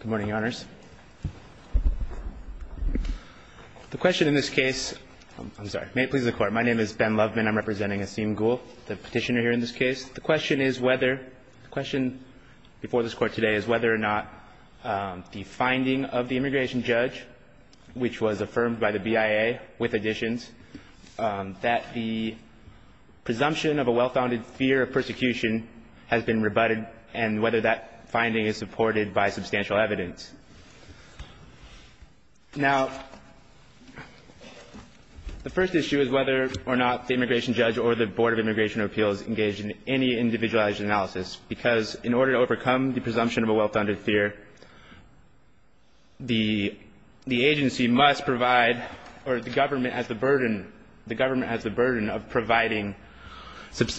Good morning, Your Honors. The question in this case, I'm sorry, may it please the Court. My name is Ben Lovman. I'm representing Asim Gul, the petitioner here in this case. The question is whether, the question before this Court today is whether or not the finding of the immigration judge, which was affirmed by the BIA with additions, that the presumption of a well-founded fear of persecution has been rebutted and whether that finding is supported by substantial evidence. Now, the first issue is whether or not the immigration judge or the Board of Immigration Appeals engage in any individualized analysis because in order to overcome the presumption of a well-founded fear, the agency must provide or the government has the burden, the government has the burden of providing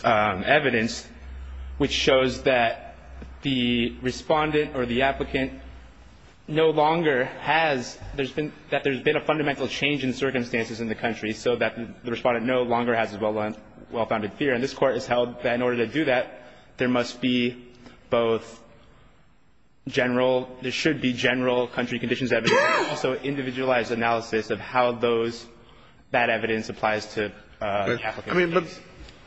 evidence which shows that the Respondent or the applicant no longer has, there's been, that there's been a fundamental change in circumstances in the country so that the Respondent no longer has a well-founded fear. And this Court has held that in order to do that, there must be both general, there should be general country conditions evidence, but also individualized analysis of how those, that evidence applies to the applicant. I mean, but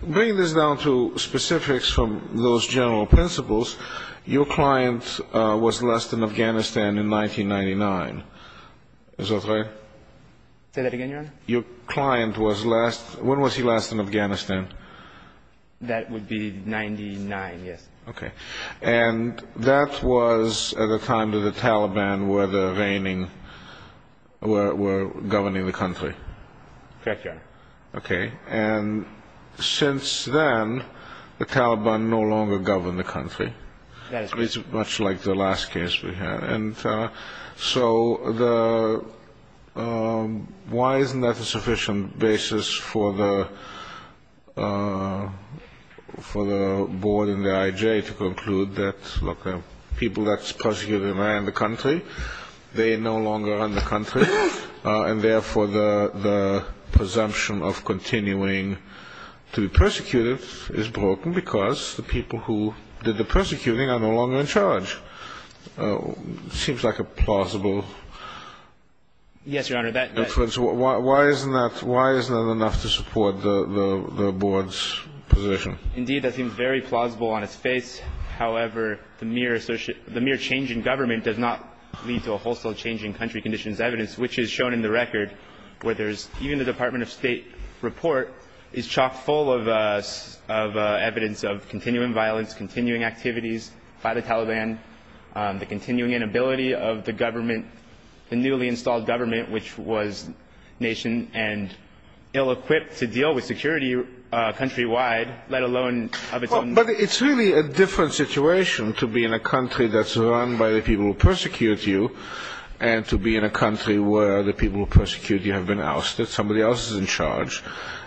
bring this down to specifics from those general principles. Your client was last in Afghanistan in 1999. Is that right? Say that again, Your Honor? Your client was last, when was he last in Afghanistan? That would be 99, yes. Okay. And that was at a time that the Taliban were reigning, were governing the country. Correct, Your Honor. Okay. And since then, the Taliban no longer govern the country. That is correct. It's much like the last case we had. And so the, why isn't that a sufficient basis for the, for the Board and the I.J. to conclude that, look, the people that's prosecuting are in the country, they no longer run the country, and therefore the presumption of continuing to be persecuted is broken because the people who did the persecuting are no longer in charge. It seems like a plausible... Yes, Your Honor, that... Why isn't that, why is that enough to support the Board's position? Indeed, that seems very plausible on its face. However, the mere change in government does not lead to a wholesale change in country conditions evidence, which is shown in the record, where there's, even the Department of State report is chock-full of evidence of continuing violence, continuing activities by the Taliban, the continuing inability of the government, the newly installed government, which was nation and ill-equipped to deal with security countrywide, let alone of its own... But it's really a different situation to be in a country that's run by the people who persecute you and to be in a country where the people who persecute you have been ousted, somebody else is in charge,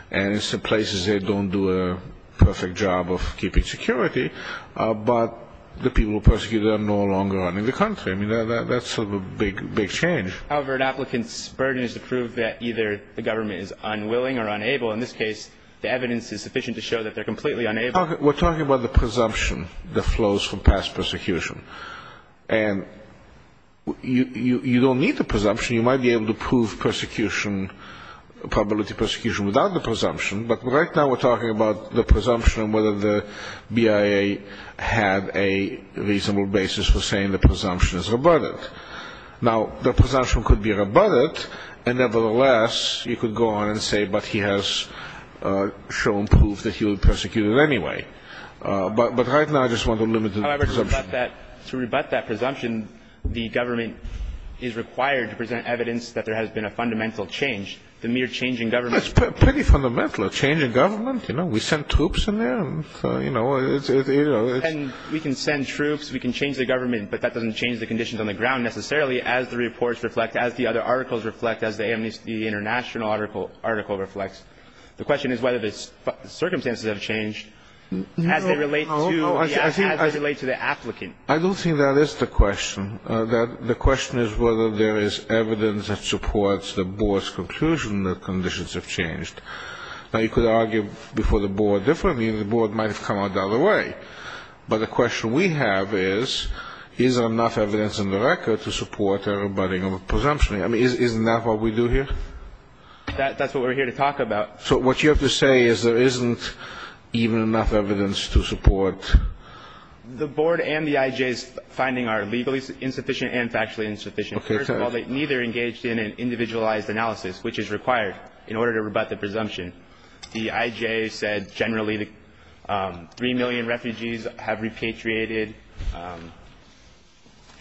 and in some places they don't do a perfect job of keeping security, but the people who persecute are no longer running the country. I mean, that's a big, big change. However, an applicant's burden is to prove that either the government is unwilling or unable. In this case, the evidence is sufficient to show that they're completely unable... We're talking about the presumption that flows from past persecution, and you don't need the presumption. You might be able to prove persecution, probability of persecution, without the presumption, but right now we're talking about the presumption and whether the BIA had a reasonable basis for saying the presumption is rebutted. Now, the presumption could be rebutted, and nevertheless, you could go on and say, but he has shown proof that he was persecuted anyway. But right now, I just want to limit the presumption. However, to rebut that presumption, the government is required to present evidence that there has been a fundamental change. The mere change in government... It's pretty fundamental, a change in government. You know, we send troops in there, and, you know... And we can send troops, we can change the government, but that doesn't change the conditions on the ground necessarily, as the reports reflect, as the other articles reflect, as the Amnesty International article reflects. The question is whether the circumstances have changed as they relate to the applicant. I don't think that is the question. The question is whether there is evidence that supports the board's conclusion that conditions have changed. Now, you could argue before the board differently, and the board might have come out the other way. But the question we have is, is there enough evidence in the record to support a rebutting of a presumption? I mean, isn't that what we do here? That's what we're here to talk about. So what you have to say is there isn't even enough evidence to support... The board and the IJ's finding are legally insufficient and factually insufficient. First of all, they neither engaged in an individualized analysis, which is required in order to rebut the presumption. The IJ said generally that 3 million refugees have repatriated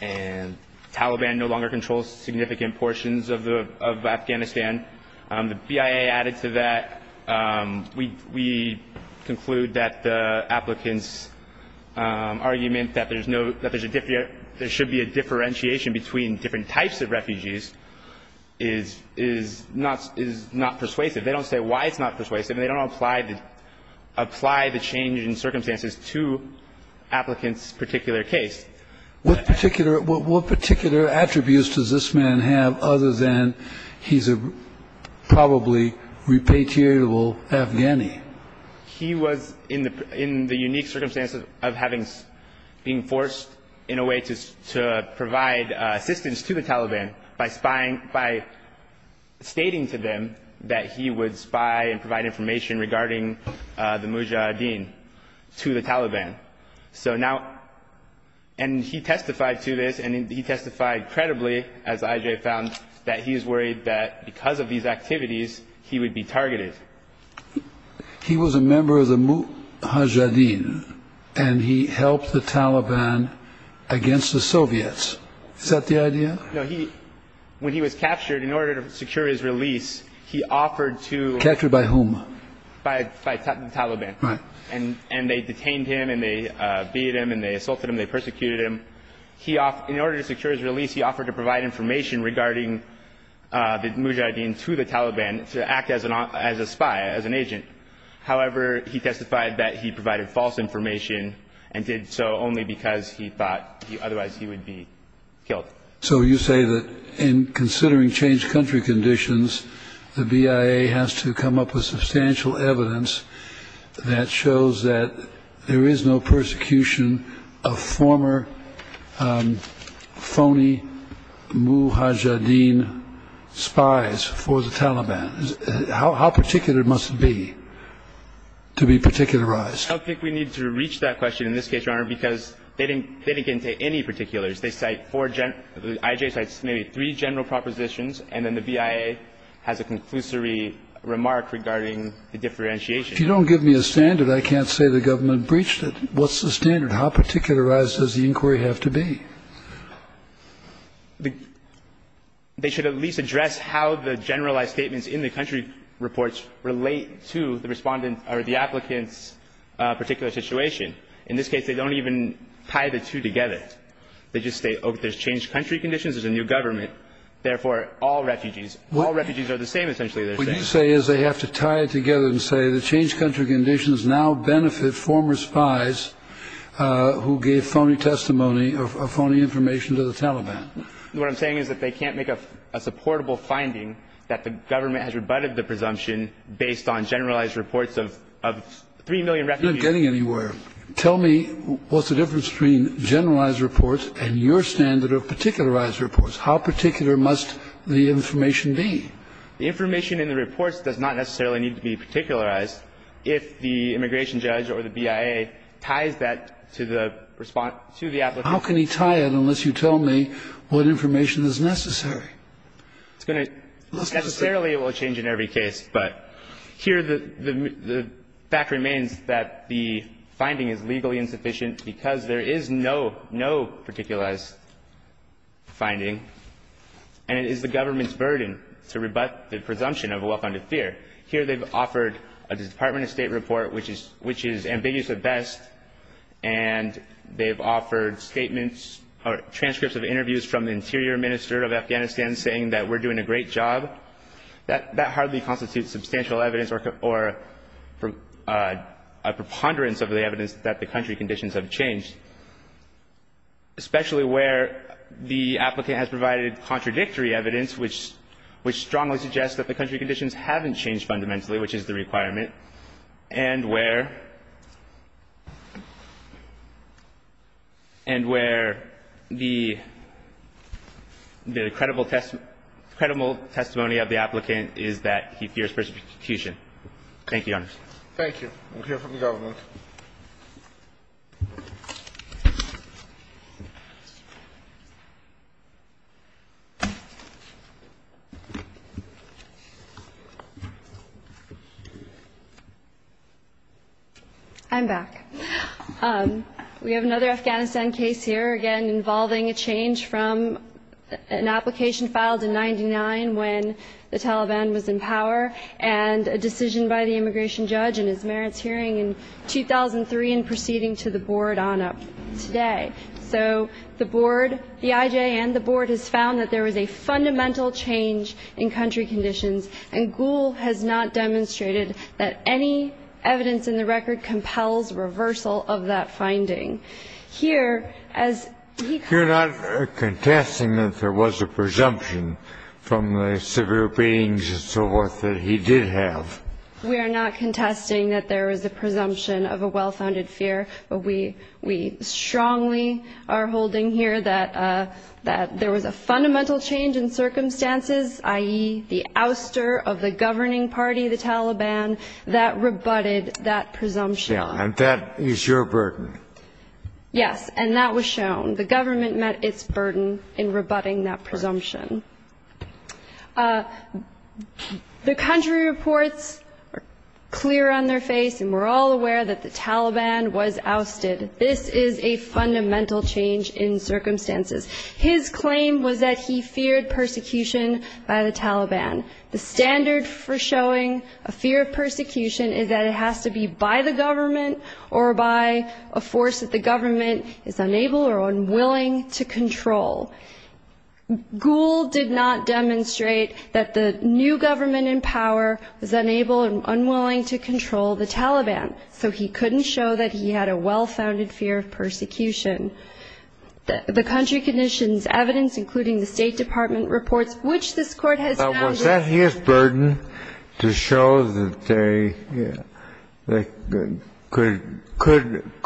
and the Taliban no longer controls significant portions of Afghanistan. The BIA added to that. We conclude that the applicant's argument that there should be a differentiation between different types of refugees is not persuasive. They don't say why it's not persuasive, and they don't apply the change in circumstances to applicant's particular case. What particular attributes does this man have other than he's a probably repatriatable Afghani? He was in the unique circumstances of having been forced in a way to provide assistance to the Taliban by stating to them that he would spy and provide information regarding the Mujahideen to the Taliban. And he testified to this, and he testified credibly, as the IJ found, that he is worried that because of these activities he would be targeted. He was a member of the Mujahideen, and he helped the Taliban against the Soviets. Is that the idea? No. When he was captured, in order to secure his release, he offered to- Captured by whom? By the Taliban. Right. And they detained him, and they beat him, and they assaulted him. They persecuted him. In order to secure his release, he offered to provide information regarding the Mujahideen to the Taliban to act as a spy, as an agent. However, he testified that he provided false information and did so only because he thought otherwise he would be killed. So you say that in considering changed country conditions, the BIA has to come up with substantial evidence that shows that there is no persecution of former phony Mujahideen spies for the Taliban. How particular must it be to be particularized? I don't think we need to reach that question in this case, Your Honor, because they didn't get into any particulars. They cite four general – the IJ cites maybe three general propositions, and then the BIA has a conclusory remark regarding the differentiation. If you don't give me a standard, I can't say the government breached it. What's the standard? How particularized does the inquiry have to be? They should at least address how the generalized statements in the country reports relate to the applicant's particular situation. In this case, they don't even tie the two together. They just say, oh, there's changed country conditions, there's a new government, therefore all refugees. All refugees are the same, essentially. What you say is they have to tie it together and say the changed country conditions now benefit former spies who gave phony testimony or phony information to the Taliban. What I'm saying is that they can't make a supportable finding that the government has rebutted the presumption based on generalized reports of three million refugees. You're not getting anywhere. Tell me what's the difference between generalized reports and your standard of particularized reports. How particular must the information be? The information in the reports does not necessarily need to be particularized. If the immigration judge or the BIA ties that to the response to the applicant. How can he tie it unless you tell me what information is necessary? It's going to necessarily change in every case. But here the fact remains that the finding is legally insufficient because there is no, no particularized finding and it is the government's burden to rebut the presumption of a well-founded fear. Here they've offered a Department of State report which is ambiguous at best and they've offered statements or transcripts of interviews from the Interior Minister of Afghanistan saying that we're doing a great job. That hardly constitutes substantial evidence or a preponderance of the evidence that the country conditions have changed. Especially where the applicant has provided contradictory evidence which strongly suggests that the country conditions haven't changed fundamentally, which is the requirement, and where the credible testimony of the applicant is that he fears persecution. Thank you, Your Honor. Thank you. We'll hear from the government. I'm back. We have another Afghanistan case here, again, involving a change from an application filed in 1999 when the Taliban was in power and a decision by the immigration judge in his merits hearing in 2003 and proceeding to the board on it today. So the board, the IJN, the board has found that there is a fundamental change in country conditions and Gould has not demonstrated that any evidence in the record compels reversal of that finding. Here, as he comes to the floor. You're not contesting that there was a presumption from the severe beings and so forth that he did have? We are not contesting that there is a presumption of a well-founded fear, but we strongly are holding here that there was a fundamental change in circumstances, i.e., the ouster of the governing party, the Taliban, that rebutted that presumption. And that is your burden. Yes, and that was shown. The government met its burden in rebutting that presumption. The country reports are clear on their face, and we're all aware that the Taliban was ousted. This is a fundamental change in circumstances. His claim was that he feared persecution by the Taliban. The standard for showing a fear of persecution is that it has to be by the government or by a force that the government is unable or unwilling to control. Gould did not demonstrate that the new government in power was unable or unwilling to control the Taliban, so he couldn't show that he had a well-founded fear of persecution. The country conditions evidence, including the State Department reports, which this Court has found that the ---- Now, was that his burden to show that they could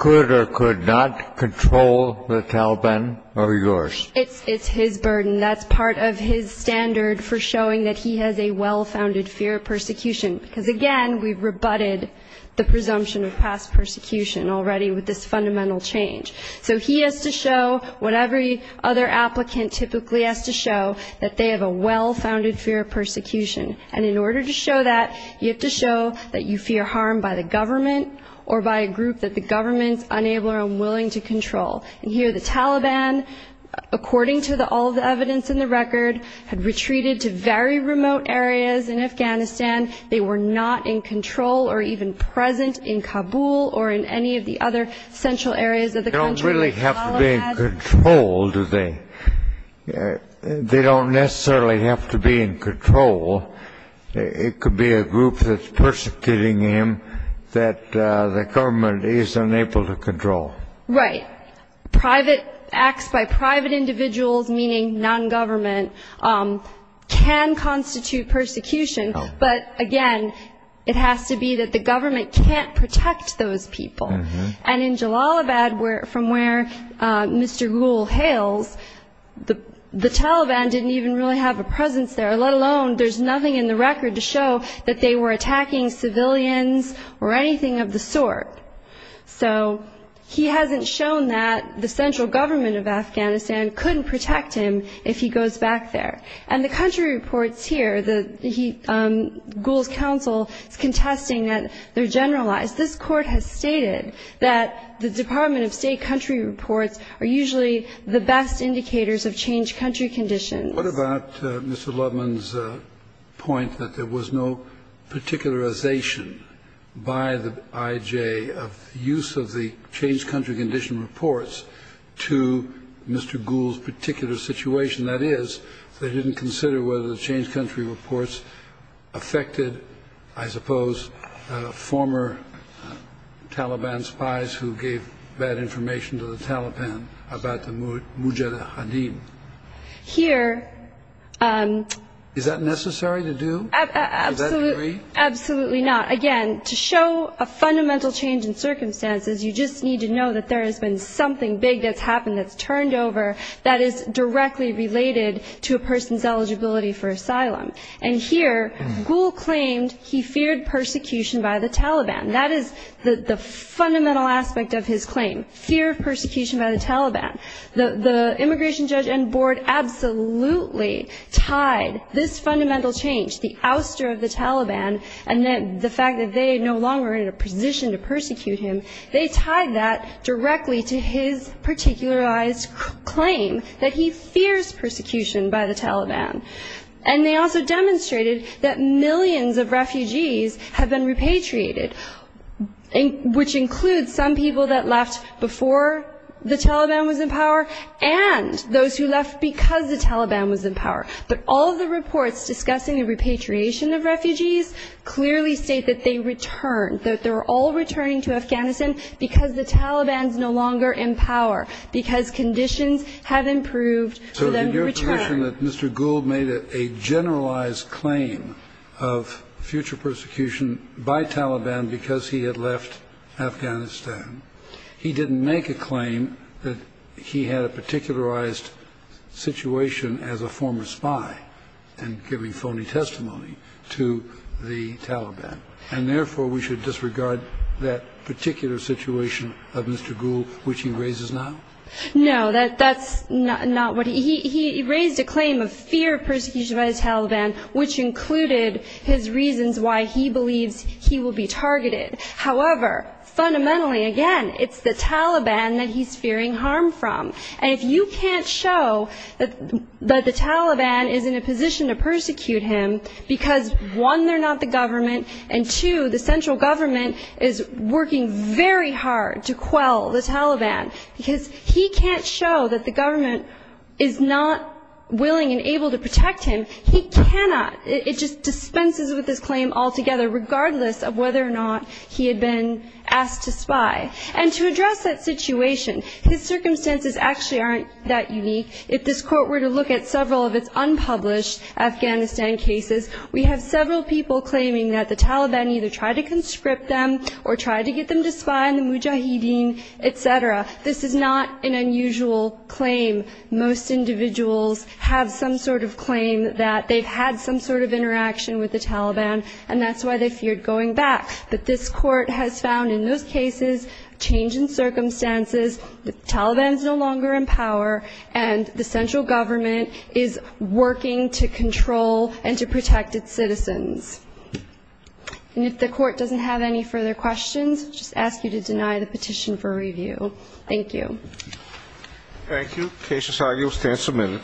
or could not control the Taliban or yours? It's his burden. That's part of his standard for showing that he has a well-founded fear of persecution, because, again, we've rebutted the presumption of past persecution already with this fundamental change. So he has to show what every other applicant typically has to show, that they have a well-founded fear of persecution. And in order to show that, you have to show that you fear harm by the government or by a group that the government is unable or unwilling to control. And here the Taliban, according to all the evidence in the record, had retreated to very remote areas in Afghanistan. They were not in control or even present in Kabul or in any of the other central areas of the country. They don't really have to be in control, do they? They don't necessarily have to be in control. It could be a group that's persecuting him that the government is unable to control. Right. Private acts by private individuals, meaning nongovernment, can constitute persecution. But, again, it has to be that the government can't protect those people. And in Jalalabad, from where Mr. Ghul hails, the Taliban didn't even really have a presence there, let alone there's nothing in the record to show that they were attacking civilians or anything of the sort. So he hasn't shown that the central government of Afghanistan couldn't protect him if he goes back there. And the country reports here, Ghul's counsel is contesting that they're generalized. This Court has stated that the Department of State country reports are usually the best indicators of changed country conditions. What about Mr. Lubman's point that there was no particularization by the I.J. of the use of the changed country condition reports to Mr. Ghul's particular situation? That is, they didn't consider whether the changed country reports affected, I suppose, former Taliban spies who gave bad information to the Taliban about the mujahideen? Here... Is that necessary to do? Absolutely not. Again, to show a fundamental change in circumstances, you just need to know that there has been something big that's happened, that's turned over, that is directly related to a person's eligibility for asylum. And here, Ghul claimed he feared persecution by the Taliban. The immigration judge and board absolutely tied this fundamental change, the ouster of the Taliban, and the fact that they are no longer in a position to persecute him, they tied that directly to his particularized claim that he fears persecution by the Taliban. And they also demonstrated that millions of refugees have been repatriated, which includes some people that left before the Taliban was in power and those who left because the Taliban was in power. But all the reports discussing the repatriation of refugees clearly state that they returned, that they're all returning to Afghanistan because the Taliban's no longer in power, because conditions have improved for them to return. So you're saying that Mr. Ghul made a generalized claim of future persecution by Taliban because he had left Afghanistan. He didn't make a claim that he had a particularized situation as a former spy and giving phony testimony to the Taliban. And therefore, we should disregard that particular situation of Mr. Ghul, which he raises now? No, that's not what he raised. He raised a claim of fear of persecution by the Taliban, which included his reasons why he believes he will be targeted. However, fundamentally, again, it's the Taliban that he's fearing harm from. And if you can't show that the Taliban is in a position to persecute him, because, one, they're not the government, and, two, the central government is working very hard to quell the Taliban, because he can't show that the government is not willing and able to protect him. He cannot. It just dispenses with this claim altogether, regardless of whether or not he had been asked to spy. And to address that situation, his circumstances actually aren't that unique. If this Court were to look at several of its unpublished Afghanistan cases, we have several people claiming that the Taliban either tried to conscript them or tried to get them to spy on the mujahideen, et cetera. This is not an unusual claim. Most individuals have some sort of claim that they've had some sort of interaction with the Taliban, and that's why they feared going back. But this Court has found in those cases, change in circumstances, the Taliban is no longer in power, And if the Court doesn't have any further questions, I'll just ask you to deny the petition for review. Thank you. Thank you. Case decided. You'll stand submitted.